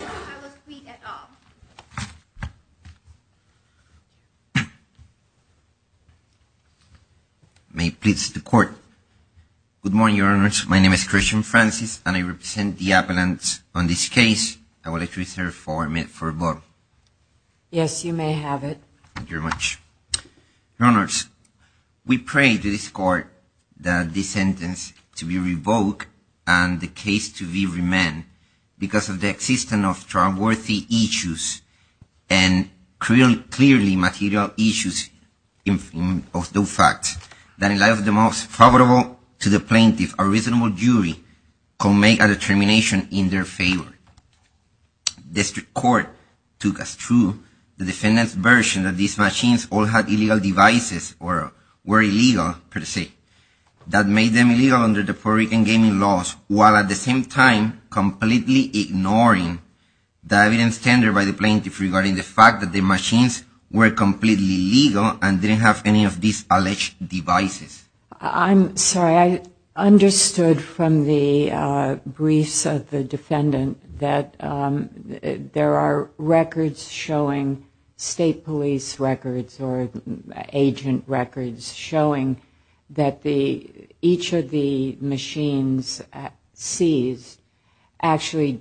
I will plead at all. May it please the Court. Good morning, Your Honors. My name is Christian Francis, and I represent the appellants on this case. I would like to reserve four minutes for rebuttal. Yes, you may have it. Thank you very much. Your Honors, we pray to this Court that this sentence to be revoked and the case to be remanded because of the existence of trustworthy issues and clearly material issues of those facts that in light of the most favorable to the plaintiff, a reasonable jury could make a determination in their favor. The District Court took as true the defendant's version that these machines all had illegal devices or were illegal, per se, that made them illegal under the Puerto Rican gaming laws while at the same time completely ignoring the evidence tendered by the plaintiff regarding the fact that the machines were completely illegal and didn't have any of these alleged devices. I'm sorry, I understood from the briefs of the defendant that there are records showing, state police records or agent records showing that each of the machines seized actually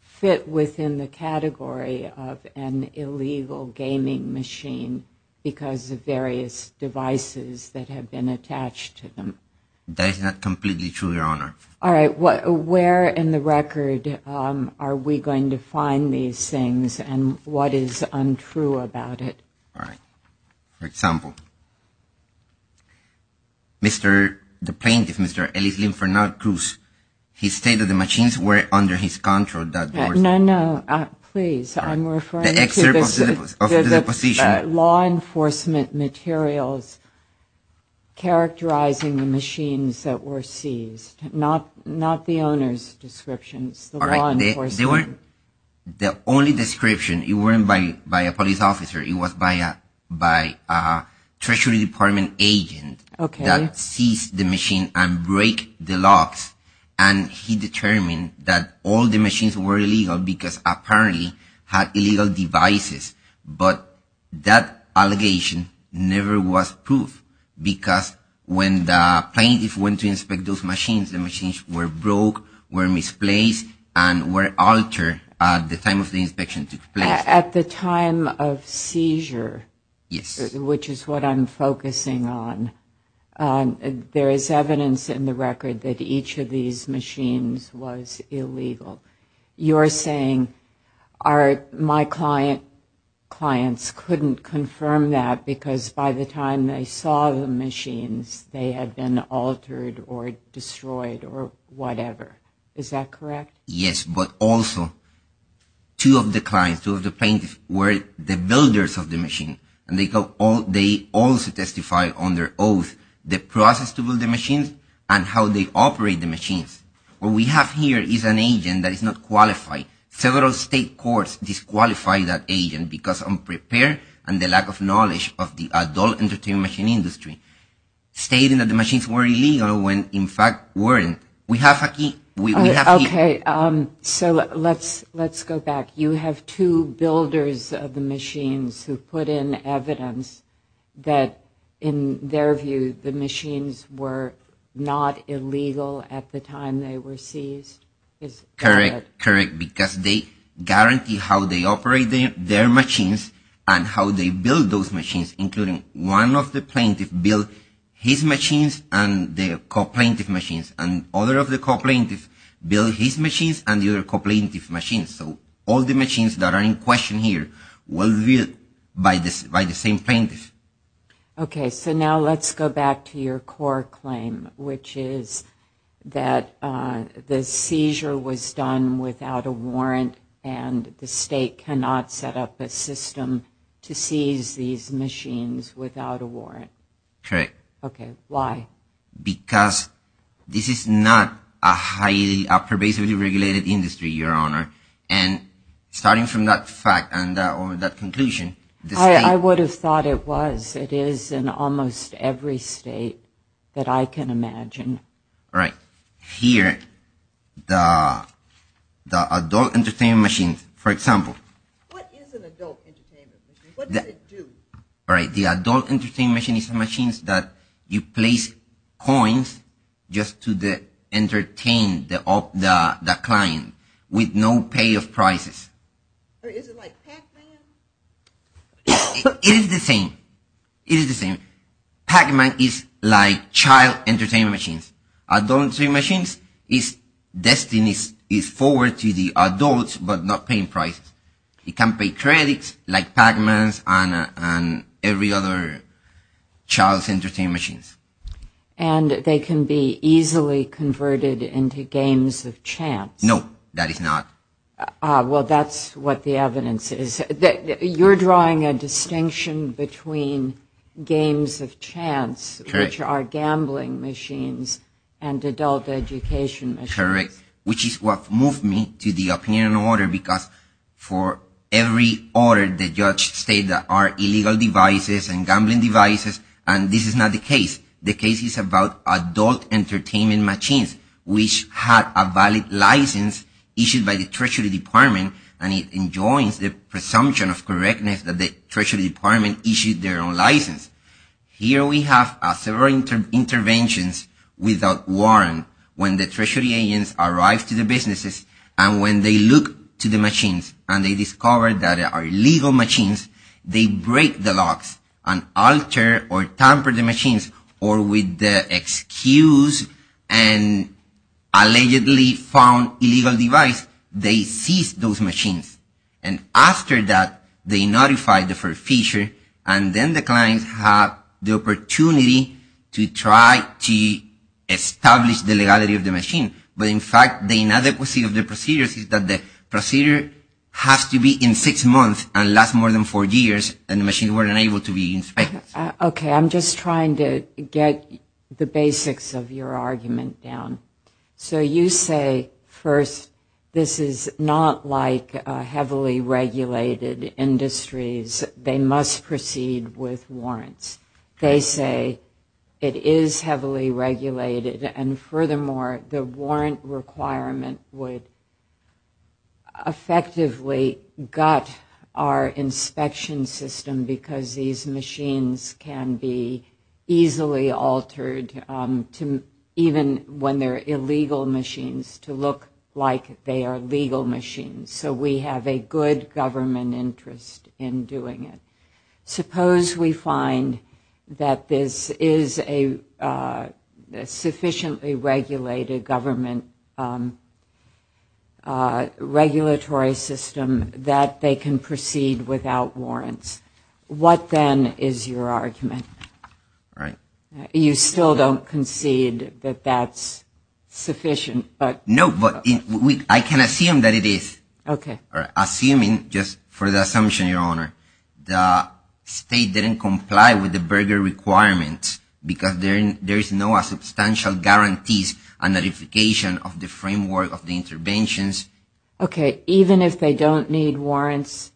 fit within the category of an illegal gaming machine because of various devices that have been attached to them. That is not completely true, Your Honor. All right, where in the record are we going to find these things and what is untrue about it? All right, for example, the plaintiff, Mr. Elise Linferno Cruz, he stated the machines were under his control. No, no, please, I'm referring to the law enforcement materials characterizing the machines that were seized, not the owner's descriptions, the law enforcement. All right, the only description, it weren't by a police officer, it was by a Treasury Department agent that seized the machine and break the locks and he determined that all the machines were illegal because apparently had illegal devices, but that allegation never was proved because when the plaintiff went to inspect those machines, the machines were broke, were misplaced and were altered at the time of the inspection took place. At the time of seizure? Yes. Which is what I'm focusing on. There is evidence in the record that each of these machines was illegal. You're saying my clients couldn't confirm that because by the time they saw the machines, they had been altered or destroyed or whatever. Is that correct? Yes, but also two of the clients, two of the plaintiffs were the builders of the machine and they also testified under oath the process to build the machines and how they operate the machines. What we have here is an agent that is not qualified. Several state courts disqualify that agent because unprepared and the lack of knowledge of the adult entertainment machine industry. Stating that the machines were illegal when in fact weren't. We have here... Okay, so let's go back. You have two builders of the machines who put in evidence that in their view the machines were not illegal at the time they were seized. Is that correct? Correct. Because they guaranteed how they operated their machines and how they built those machines, including one of the plaintiffs built his machines and the co-plaintiff's machines. And other of the co-plaintiffs built his machines and the other co-plaintiff's machines. So all the machines that are in question here were built by the same plaintiff. Okay, so now let's go back to your core claim, which is that the seizure was done without a warrant and the state cannot set up a system to seize these machines without a warrant. Correct. Okay, why? Because this is not a pervasively regulated industry, Your Honor. And starting from that fact and that conclusion... I would have thought it was. It is in almost every state that I can imagine. Right. Here, the adult entertainment machines, for example... What is an adult entertainment machine? What does it do? All right, the adult entertainment machine is machines that you place coins just to entertain the client with no pay of prices. Is it like Pac-Man? It is the same. It is the same. Pac-Man is like child entertainment machines. Adult machines, its destiny is forward to the adults but not paying prices. It can pay credits like Pac-Man and every other child's entertainment machines. And they can be easily converted into games of chance. No, that is not. Well, that's what the evidence is. You're drawing a distinction between games of chance, which are gambling machines, and adult education machines. Correct, which is what moved me to the opinion of the order because for every order, the judge states that there are illegal devices and gambling devices, and this is not the case. The case is about adult entertainment machines, which have a valid license issued by the Treasury Department and it enjoins the presumption of correctness that the Treasury Department issued their own license. Here we have several interventions without warrant. When the Treasury agents arrive to the businesses and when they look to the machines and they discover that they are illegal machines, they break the locks and alter or tamper the machines or with the excuse and allegedly found illegal device, they seize those machines. And after that, they notify the forefeasure and then the clients have the opportunity to try to establish the legality of the machine. But in fact, the inadequacy of the procedures is that the procedure has to be in six months and last more than four years and the machines weren't able to be inspected. Okay, I'm just trying to get the basics of your argument down. So you say, first, this is not like heavily regulated industries. They must proceed with warrants. They say it is heavily regulated and furthermore, the warrant requirement would effectively gut our inspection system because these machines can be easily altered even when they're illegal machines to look like they are legal machines. So we have a good government interest in doing it. Suppose we find that this is a sufficiently regulated government regulatory system that they can proceed without warrants. What then is your argument? You still don't concede that that's sufficient? No, but I can assume that it is. Assuming, just for the assumption, Your Honor, the state didn't comply with the burger requirement because there is no substantial guarantees and notification of the framework of the interventions. Okay, even if they don't need warrants?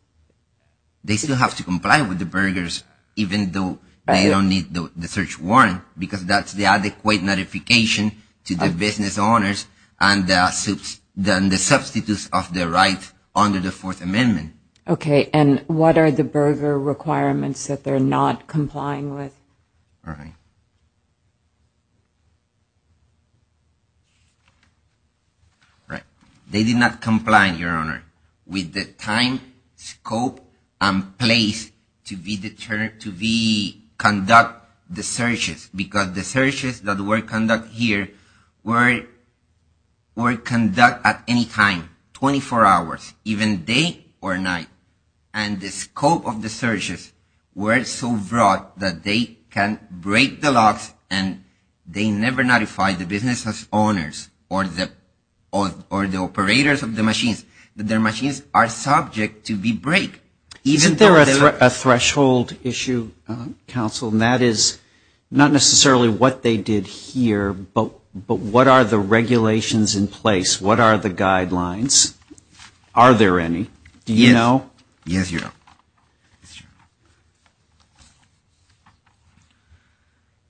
They still have to comply with the burgers even though they don't need the search warrant because that's the adequate notification to the business owners and the substitutes of their rights under the Fourth Amendment. Okay, and what are the burger requirements that they're not complying with? All right. They did not comply, Your Honor, with the time, scope, and place to conduct the searches because the searches that were conducted here were conducted at any time, 24 hours, even day or night. And the scope of the searches were so broad that they can break the locks and they never notify the business owners or the operators of the machines. Their machines are subject to be break. Isn't there a threshold issue, counsel, and that is not necessarily what they did here, but what are the regulations in place? What are the guidelines? Are there any? Do you know? Yes, Your Honor.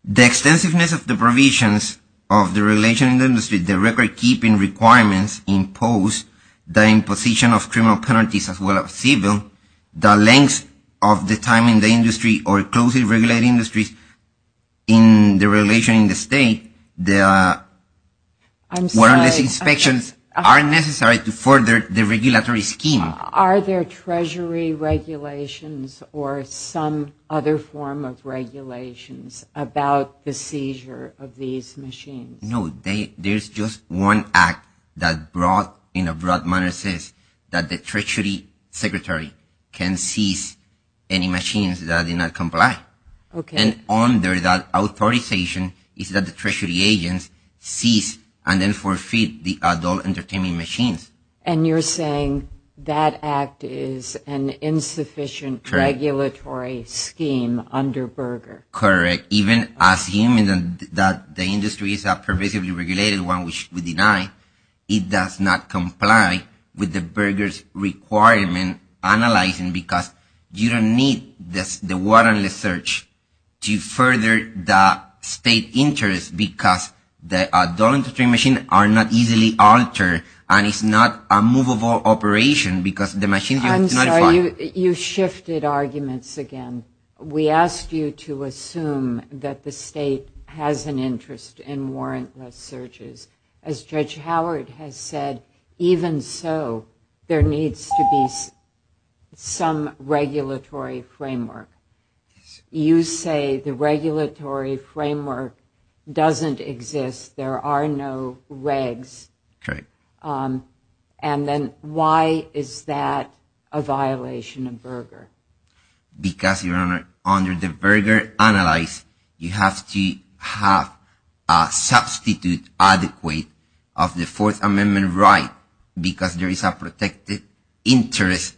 The extensiveness of the provisions of the regulation in the industry, the record-keeping requirements impose the imposition of criminal penalties as well as civil, the length of the time in the industry or closely regulated industries in the regulation in the state, the inspections are necessary to further the regulatory scheme. Are there treasury regulations or some other form of regulations about the seizure of these machines? No. There's just one act that brought in a broad manner says that the treasury secretary can seize any machines that do not comply. Okay. And then under that authorization is that the treasury agents seize and then forfeit the adult entertainment machines. And you're saying that act is an insufficient regulatory scheme under Berger? Correct. Even assuming that the industry is a pervasively regulated one which we deny, it does not comply with the Berger's requirement analyzing because you don't need the warrantless search to further the state interest because the adult entertainment machines are not easily altered and it's not a movable operation because the machines are notified. I'm sorry. You shifted arguments again. We asked you to assume that the state has an interest in warrantless searches. As Judge Howard has said, even so, there needs to be some regulatory framework. You say the regulatory framework doesn't exist. There are no regs. Correct. Because under the Berger Analyze you have to have a substitute adequate of the Fourth Amendment right because there is a protected interest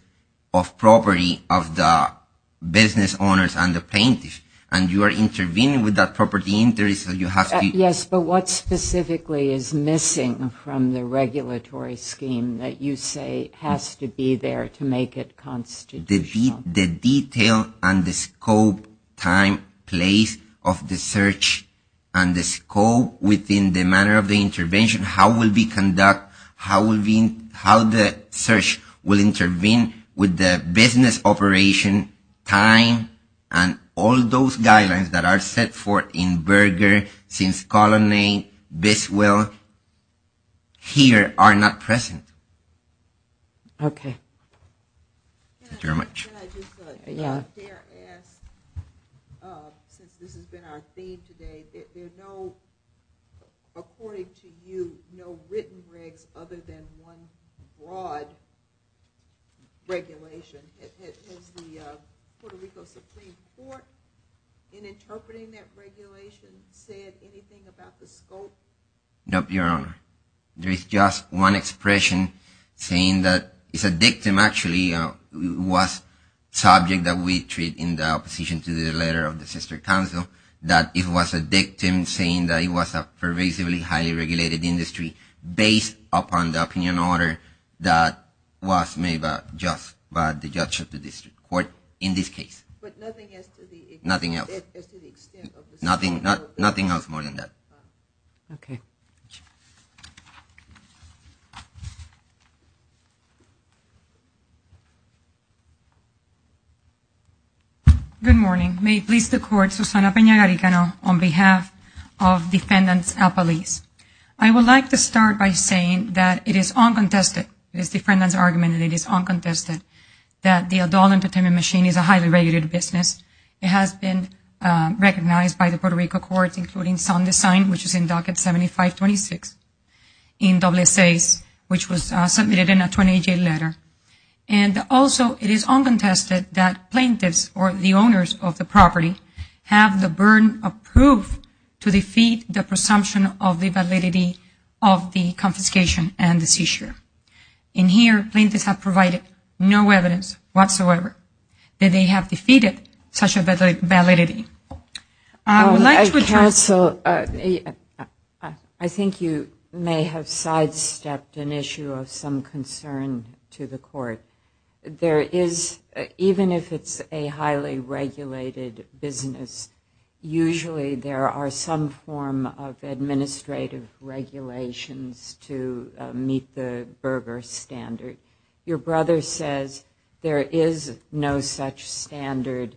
of property of the business owners and the plaintiffs and you are intervening with that property interest. Yes, but what specifically is missing from the regulatory scheme that you say has to be there to make it constitutional? The detail and the scope, time, place of the search, and the scope within the manner of the intervention, how it will be conducted, how the search will intervene with the business operation, time, and all those guidelines that are set forth in Berger since colony, this will, here are not present. Okay. Thank you very much. Can I just ask, since this has been our theme today, there are no, according to you, no written regs other than one broad regulation. Has the Puerto Rico Supreme Court, in interpreting that regulation, said anything about the scope? No, Your Honor. There is just one expression saying that it's a dictum actually, it was subject that we treat in the opposition to the letter of the sister council, that it was a dictum saying that it was a pervasively highly regulated industry based upon the opinion order that was made by the judge of the district court in this case. But nothing else to the extent of the Supreme Court? Nothing else more than that. Okay. Good morning. May it please the court, Susana Pena-Garicano on behalf of defendants at police. I would like to start by saying that it is uncontested, this defendant's argument, and it is uncontested that the adult entertainment machine is a highly regulated business. It has been recognized by the Puerto Rico courts, including Sound Design, which is in docket 7526, in WSAs, which was submitted in a 28-day letter. And also, it is uncontested that plaintiffs or the owners of the property have the burden of proof to defeat the presumption of the validity of the confiscation and the seizure. In here, plaintiffs have provided no evidence whatsoever that they have defeated such a validity. I think you may have sidestepped an issue of some concern to the court. There is, even if it's a highly regulated business, usually there are some form of administrative regulations to meet the Berger standard. Your brother says there is no such standard,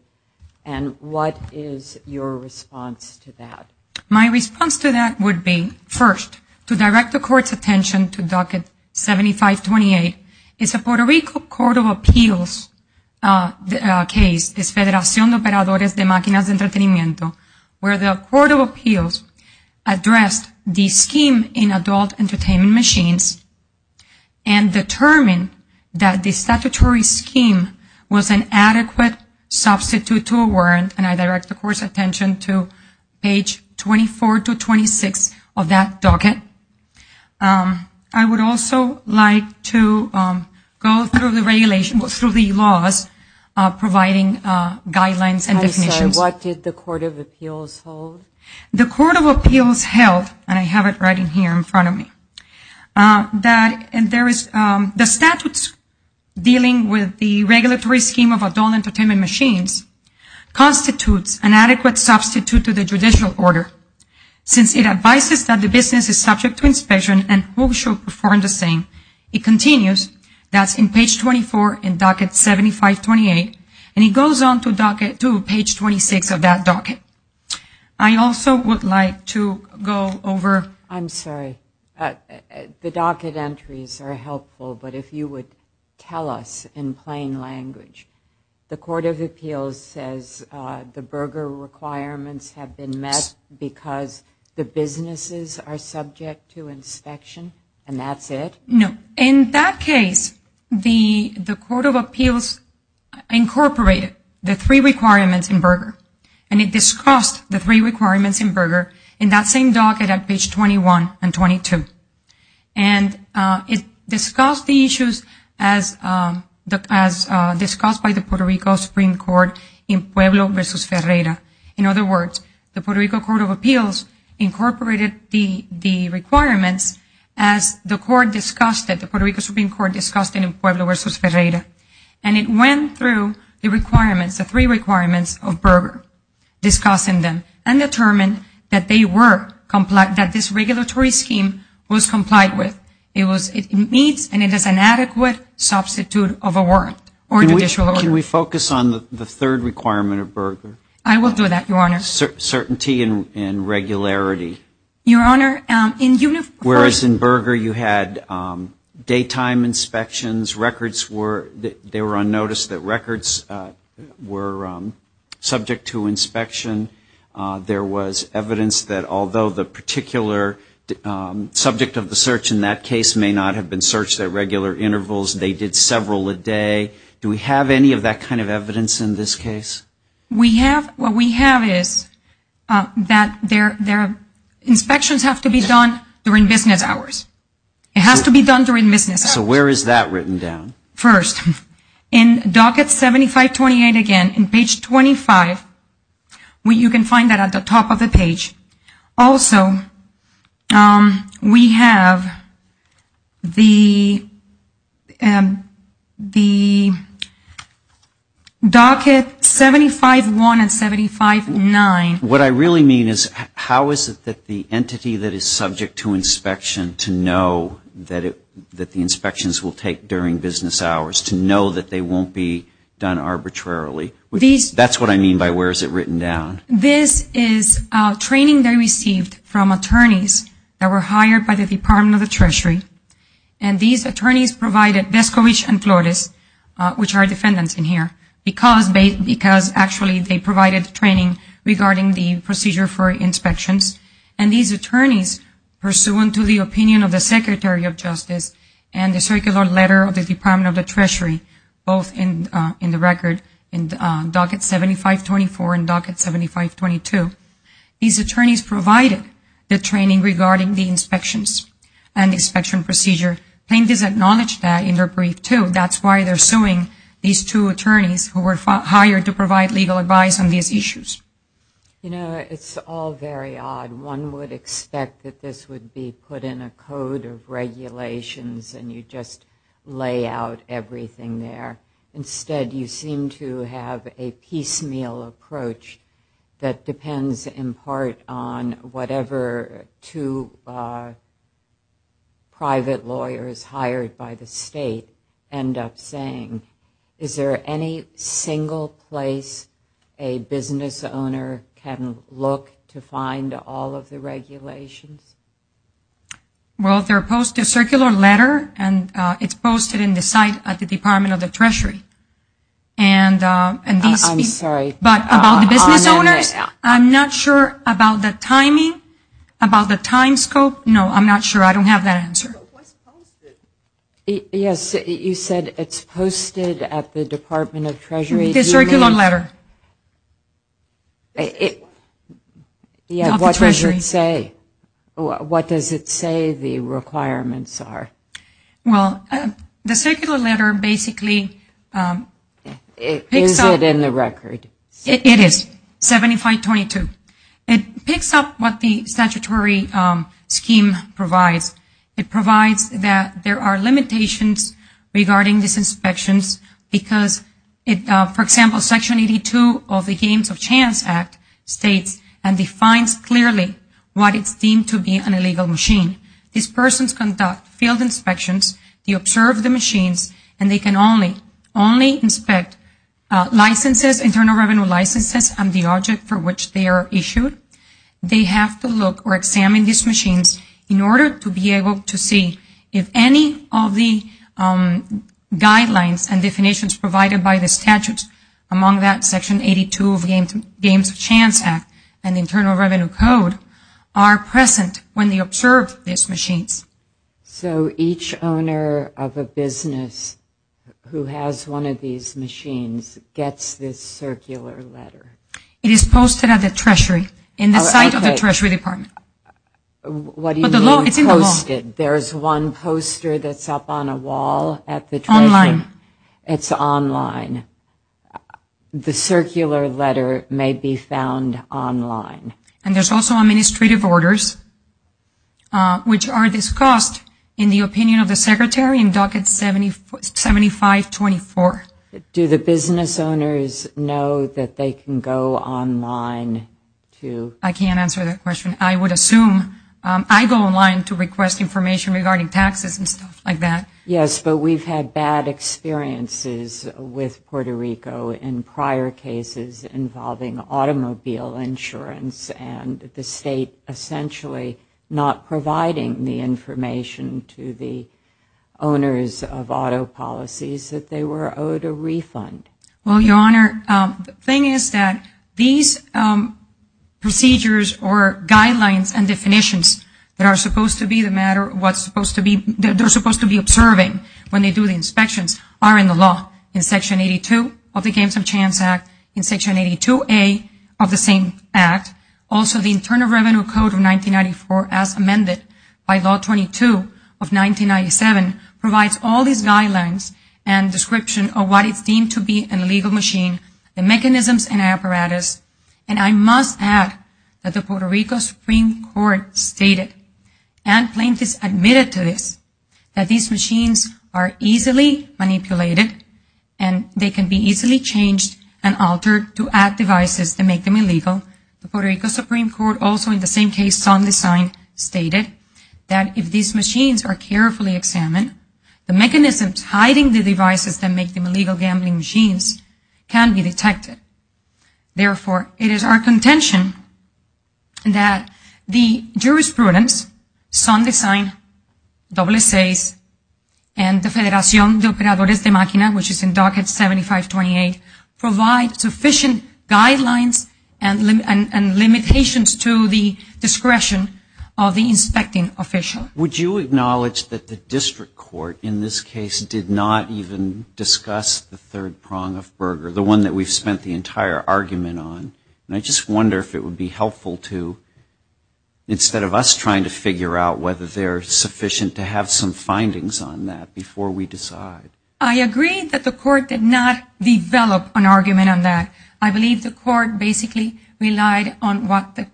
and what is your response to that? My response to that would be, first, to direct the court's attention to docket 7528. It's a Puerto Rico Court of Appeals case, Desfederación de Operadores de Máquinas de Entretenimiento, where the Court of Appeals addressed the scheme in adult entertainment machines and determined that the statutory scheme was an adequate substitute to a warrant, and I direct the court's attention to page 24 to 26 of that docket. I would also like to go through the laws providing guidelines and definitions. I'm sorry, what did the Court of Appeals hold? The Court of Appeals held, and I have it right here in front of me, that the statutes dealing with the regulatory scheme of adult entertainment machines constitutes an adequate substitute to the judicial order, since it advises that the business is subject to inspection and who should perform the same. It continues, that's in page 24 in docket 7528, and it goes on to page 26 of that docket. I also would like to go over... I'm sorry, the docket entries are helpful, but if you would tell us in plain language. The Court of Appeals says the Berger requirements have been met because the businesses are subject to inspection, and that's it? No. In that case, the Court of Appeals incorporated the three requirements in Berger, and it discussed the three requirements in Berger in that same docket at page 21 and 22. And it discussed the issues as discussed by the Puerto Rico Supreme Court in Pueblo versus Ferreira. In other words, the Puerto Rico Court of Appeals incorporated the requirements as the court discussed it, the Puerto Rico Supreme Court discussed it in Pueblo versus Ferreira, and it went through the requirements, the three requirements of Berger, discussing them, and determined that this regulatory scheme was complied with. It meets and it is an adequate substitute of a warrant or judicial order. Can we focus on the third requirement of Berger? I will do that, Your Honor. Certainty and regularity. Whereas in Berger you had daytime inspections, records were, they were on notice that records were subject to inspection. There was evidence that although the particular subject of the search in that case may not have been searched at regular intervals, they did several a day. Do we have any of that kind of evidence in this case? What we have is that inspections have to be done during business hours. It has to be done during business hours. So where is that written down? First, in docket 7528 again, in page 25, you can find that at the top of the page. Also, we have the docket 751 and 759. What I really mean is how is it that the entity that is subject to inspection to know that the inspections will take during business hours, to know that they won't be done arbitrarily? That's what I mean by where is it written down? This is training they received from attorneys that were hired by the Department of the Treasury. And these attorneys provided Descovich and Flores, which are defendants in here, because actually they provided training regarding the procedure for inspections. And these attorneys, pursuant to the opinion of the Secretary of Justice and the circular letter of the Department of the Treasury, both in the record in docket 7524 and docket 7522, these attorneys provided the training regarding the inspections and inspection procedure. Plaintiffs acknowledged that in their brief, too. That's why they're suing these two attorneys who were hired to provide legal advice on these issues. You know, it's all very odd. One would expect that this would be put in a code of regulations and you just lay out everything there. Instead, you seem to have a piecemeal approach that depends, in part, on whatever two private lawyers hired by the state end up saying. Is there any single place a business owner can look to find all of this information? All of the regulations? Well, there are posts, a circular letter, and it's posted in the site at the Department of the Treasury. I'm sorry. About the business owners, I'm not sure about the timing, about the time scope. No, I'm not sure. I don't have that answer. Yes, you said it's posted at the Department of the Treasury. The circular letter. What does it say the requirements are? Well, the circular letter basically... Is it in the record? It is. 7522. It picks up what the statutory scheme provides. It provides that there are limitations regarding these inspections because, for example, Section 82 of the Games of Chance Act states and defines clearly what is deemed to be an illegal machine. These persons conduct field inspections. They observe the machines, and they can only inspect licenses, internal revenue licenses, and the object for which they are issued. They have to look or examine these machines in order to be able to see if any of the guidelines and definitions provided by the statutes, among that Section 82 of the Games of Chance Act and Internal Revenue Code are present when they observe these machines. So each owner of a business who has one of these machines gets this circular letter. It is posted at the Treasury in the site of the Treasury Department. What do you mean posted? There's one poster that's up on a wall at the Treasury. It's online. The circular letter may be found online. And there's also administrative orders, which are discussed in the opinion of the Secretary in Docket 7524. Do the business owners know that they can go online to... I can't answer that question. I would assume I go online to request information regarding taxes and stuff like that. Yes, but we've had bad experiences with Puerto Rico in prior cases involving automobile insurance and the state essentially not providing the information to the owners of auto policies that they were owed a refund. Well, Your Honor, the thing is that these procedures or guidelines and definitions that are supposed to be observing when they do the inspections are in the law. In Section 82 of the Games of Chance Act, in Section 82A of the same Act. Also, the Internal Revenue Code of 1994, as amended by Law 22 of 1997, provides all these guidelines and description of what is deemed to be an illegal machine, the mechanisms and apparatus, and I must add that the Puerto Rico Supreme Court stated and plaintiffs admitted to this, that these machines are easily manipulated and they can be easily changed and altered to add devices that make them illegal. The Puerto Rico Supreme Court also in the same case on the sign stated that if these machines are carefully examined, the mechanisms hiding the devices that make them illegal gambling machines can be detected. Therefore, it is our contention that the jurisprudence, Sun Design, SSAS, and the Federación de Operadores de Máquina, which is in Docket 7528, provide sufficient guidelines and limitations to the discretion of the inspecting official. Would you acknowledge that the district court in this case did not even discuss the third prong of Berger, the one that we've spent the entire argument on, and I just wonder if it would be helpful to, instead of us trying to figure out whether they're sufficient to have some findings on that before we decide. I agree that the court did not develop an argument on that. I believe the court basically relied on what the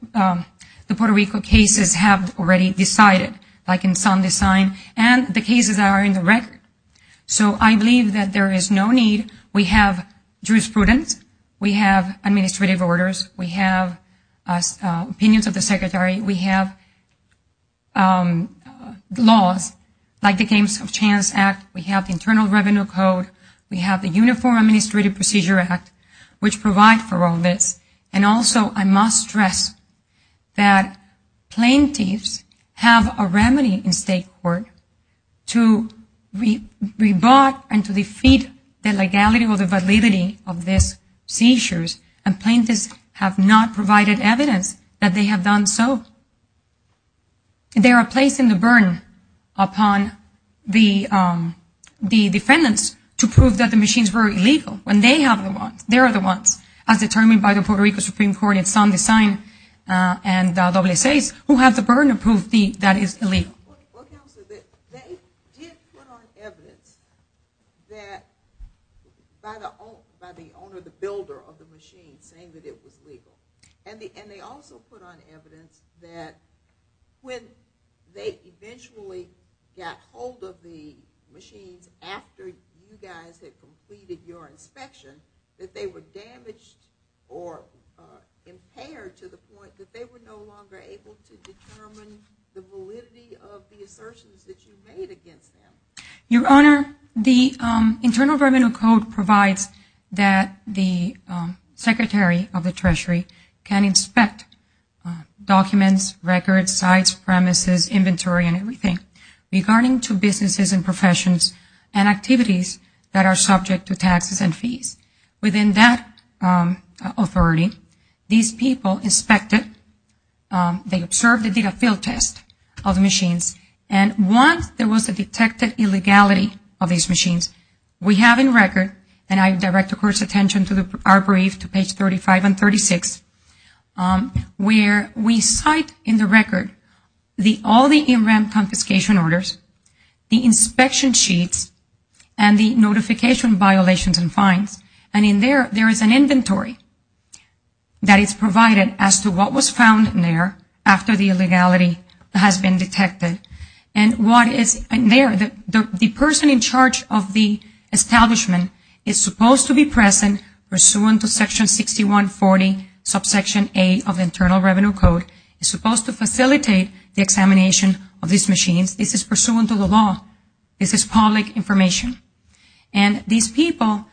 Puerto Rico cases have already decided. Like in Sun Design and the cases that are in the record. So I believe that there is no need. We have jurisprudence, we have administrative orders, we have opinions of the secretary, we have laws like the Games of Chance Act, we have the Internal Revenue Code, we have the Uniform Administrative Procedure Act, which provide for all this. And also I must stress that plaintiffs have a remedy in state court to rebut and to defeat the legality or the validity of these seizures, and plaintiffs have not provided evidence that they have done so. They are placing the burden upon the defendants to prove that the machines were illegal. When they are the ones, as determined by the Puerto Rico Supreme Court in Sun Design and WSA's, who have the burden to prove that it is illegal. They did put on evidence that by the owner, the builder of the machines saying that it was illegal. And they also put on evidence that when they eventually got hold of the machines after you guys had completed your inspection, that they were damaged or impaired to the point that they were no longer able to determine the validity of the assertions that you made against them. Your Honor, the Internal Revenue Code provides that the Secretary of the Treasury can inspect documents, records, sites, premises, inventory and everything. Regarding to businesses and professions and activities that are subject to taxes and fees. Within that authority, these people inspected, they observed and did a field test of the machines. And once there was a detected illegality of these machines, we have in record, and I direct the Court's attention to our brief to page 35 and 36, where we cite in the record all the in ramp confiscation orders, the inspection sheets and the notification violations and fines. And in there, there is an inventory that is provided as to what was found in there after the illegality has been detected. And what is in there, the person in charge of the establishment is supposed to be present pursuant to section 6140, subsection A of the Internal Revenue Code, is supposed to facilitate the examination of these machines. This is pursuant to the law. This is public information. And these people,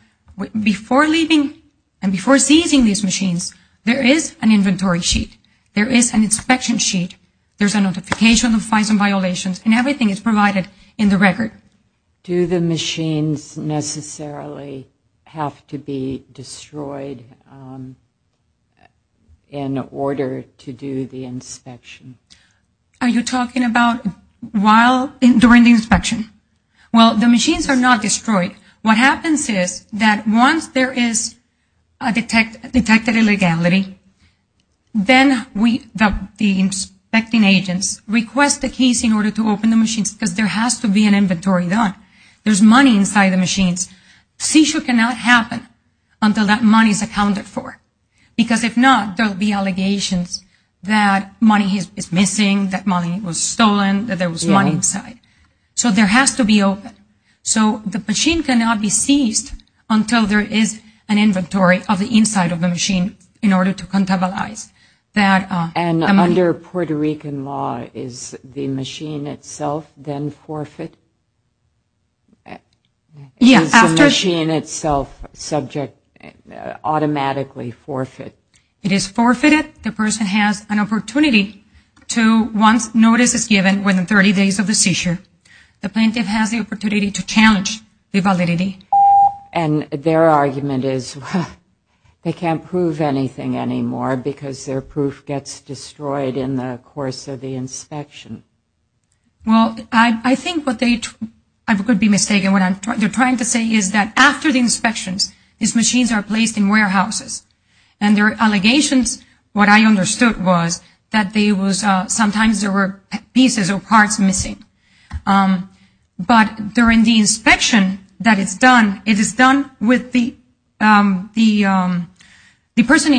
before leaving and before seizing these machines, there is an inventory sheet. There is an inspection sheet. There is a notification of fines and violations and everything is provided in the record. Do the machines necessarily have to be destroyed in order to do the inspection? Are you talking about while, during the inspection? Well, the machines are not destroyed. What happens is that once there is a detected illegality, then the inspecting agents request the keys in order to open the machines because there has to be an inventory done. There is money inside the machines. Seizure cannot happen until that money is accounted for. Because if not, there will be allegations that money is missing, that money was stolen, that there was money inside. So there has to be open. So the machine cannot be seized until there is an inventory of the inside of the machine in order to contabilize that money. Under Puerto Rican law, is the machine itself then forfeit? Is the machine itself subject automatically forfeit? It is forfeited. The person has an opportunity to once notice is given within 30 days of the seizure, the plaintiff has the opportunity to challenge the validity. And their argument is they can't prove anything anymore because their proof gets destroyed in the course of the inspection. Well, I think what they, I could be mistaken, what they are trying to say is that after the inspections, these machines are placed in warehouses. And there are allegations, what I understood was, that sometimes there were pieces or parts missing. But during the inspection that is done, it is done with the person in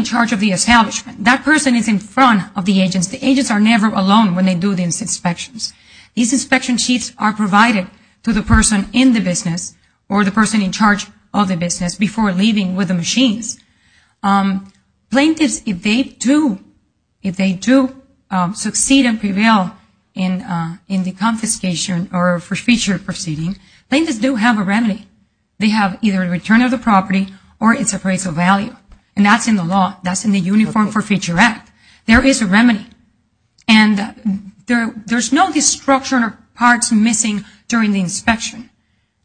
charge of the establishment. That person is in front of the agents. The agents are never alone when they do these inspections. These inspection sheets are provided to the person in the business or the person in charge of the business before leaving with the machines. Plaintiffs, if they do succeed and prevail in the confiscation or forfeiture proceeding, plaintiffs do have a remedy. They have either a return of the property or its appraisal value. And that's in the law. That's in the Uniform Forfeiture Act. There is a remedy. And there's no destruction or parts missing during the inspection.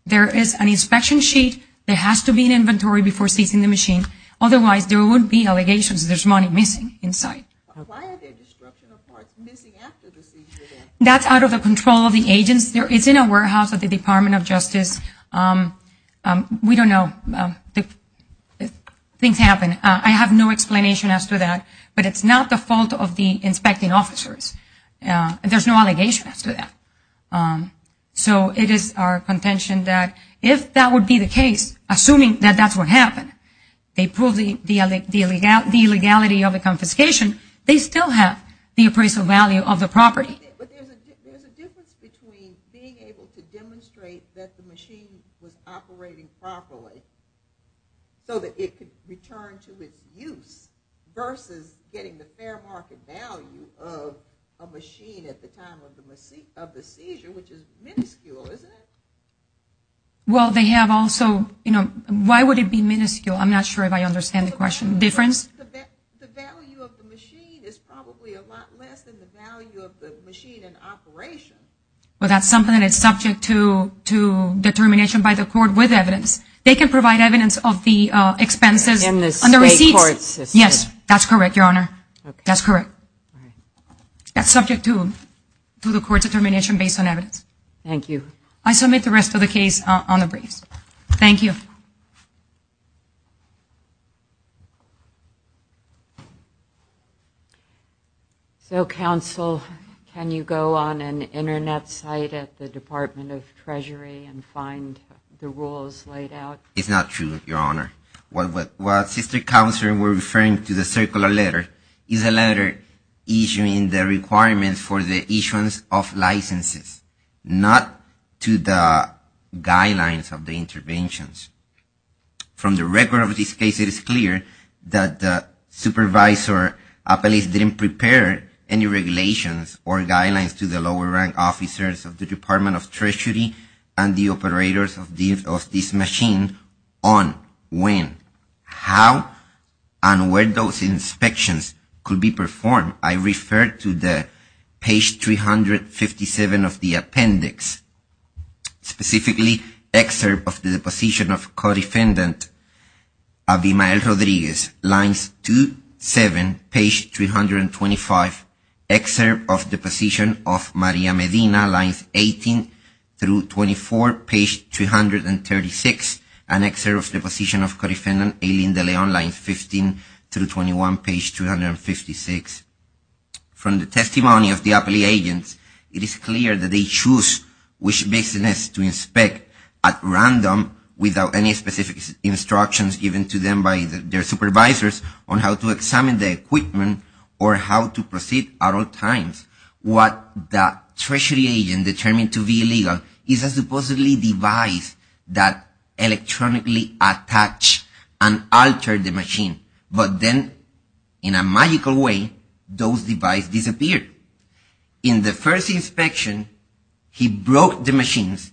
There is an inspection sheet. There has to be an inventory before seizing the machine. Otherwise, there wouldn't be allegations. There's money missing inside. Why are there destruction or parts missing after the seizure then? That's out of the control of the agents. It's in a warehouse at the Department of Justice. We don't know. Things happen. I have no explanation as to that. But it's not the fault of the inspecting officers. There's no allegation as to that. So it is our contention that if that would be the case, assuming that that's what happened, they proved the illegality of the confiscation, they still have the appraisal value of the property. But there's a difference between being able to demonstrate that the machine was operating properly so that it could return to its use versus getting the fair market value of a machine at the time of the seizure, which is minuscule, isn't it? Well, they have also, you know, why would it be minuscule? I'm not sure if I understand the question. Difference? The value of the machine is probably a lot less than the value of the machine in operation. Well, that's something that is subject to determination by the court with evidence. They can provide evidence of the expenses on the receipts. In the state court system. Yes, that's correct, Your Honor. That's correct. That's subject to the court's determination based on evidence. Thank you. I submit the rest of the case on the briefs. Thank you. So, Counsel, can you go on an Internet site at the Department of Treasury and find the rules laid out? It's not true, Your Honor. What Sister Counsel were referring to, the circular letter, is a letter issuing the requirements for the issuance of licenses, not to the guidelines of the interventions. From the record of this case, it is clear that the supervisor at least didn't prepare any regulations or guidelines to the lower rank officers of the Department of Treasury and the operators of this machine on when, how, and where those inspections could be performed. I refer to the page 357 of the appendix, specifically, excerpt of the deposition of Co-Defendant Abimael Rodriguez, lines 2-7, page 325, excerpt of the deposition of Maria Medina, lines 18-24, page 236, and excerpt of the deposition of Co-Defendant Aileen De Leon, lines 15-21, page 256. From the testimony of the appellee agents, it is clear that they choose which business to inspect at random, without any specific instructions given to them by their supervisors on how to examine the equipment or how to proceed at all times. What the treasury agent determined to be illegal is a supposedly device that electronically attached and altered the machine, but then, in a magical way, those devices disappeared. In the first inspection, he broke the machines,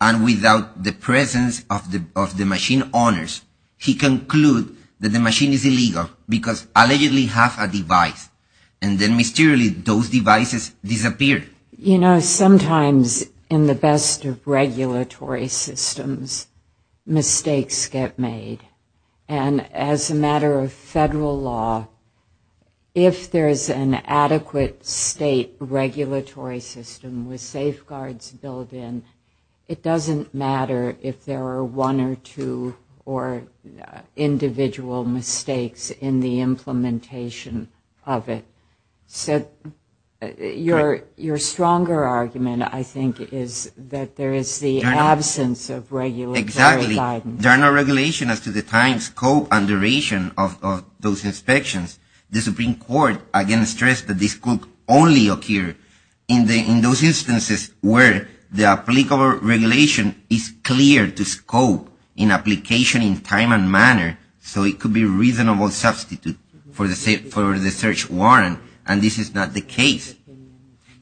and without the presence of the machine owners, he concluded that the machine is illegal because it allegedly has a device. And then, mysteriously, those devices disappeared. You know, sometimes in the best of regulatory systems, mistakes get made. And as a matter of federal law, if there is an adequate state regulatory system with safeguards built in, it doesn't matter if there are one or two or individual mistakes in the implementation of it. So your stronger argument, I think, is that there is the absence of regulatory guidance. There are no regulations as to the time, scope, and duration of those inspections. The Supreme Court, again, stressed that this could only occur in those instances where the applicable regulation is clear to scope in application in time and manner, so it could be a reasonable substitute for the search warrant, and this is not the case.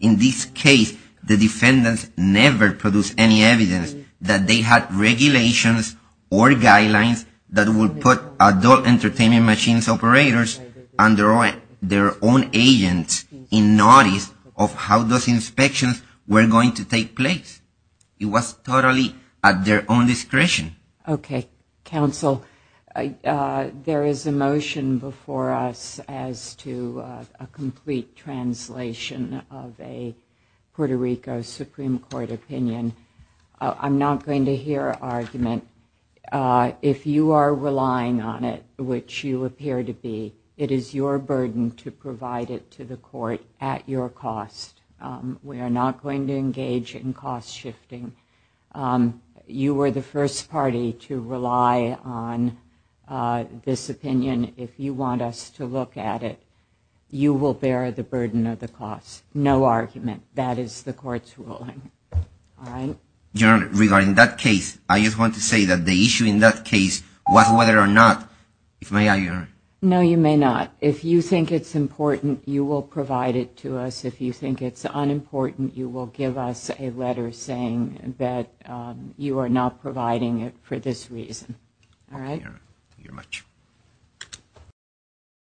In this case, the defendants never produced any evidence that they had regulations or guidelines that would put adult entertainment machines operators and their own agents in notice of how those inspections were going to take place. It was totally at their own discretion. Okay, counsel. There is a motion before us as to a complete translation of a Puerto Rico Supreme Court opinion. I'm not going to hear an argument. If you are relying on it, which you appear to be, it is your burden to provide it to the court at your cost. We are not going to engage in cost shifting. You were the first party to rely on this opinion. If you want us to look at it, you will bear the burden of the cost. No argument. That is the court's ruling. All right? Your Honor, regarding that case, I just want to say that the issue in that case was whether or not, if may I, Your Honor. No, you may not. If you think it's important, you will provide it to us. If you think it's unimportant, you will give us a letter saying that you are not providing it for this reason. All right? Thank you, Your Honor. Thank you very much.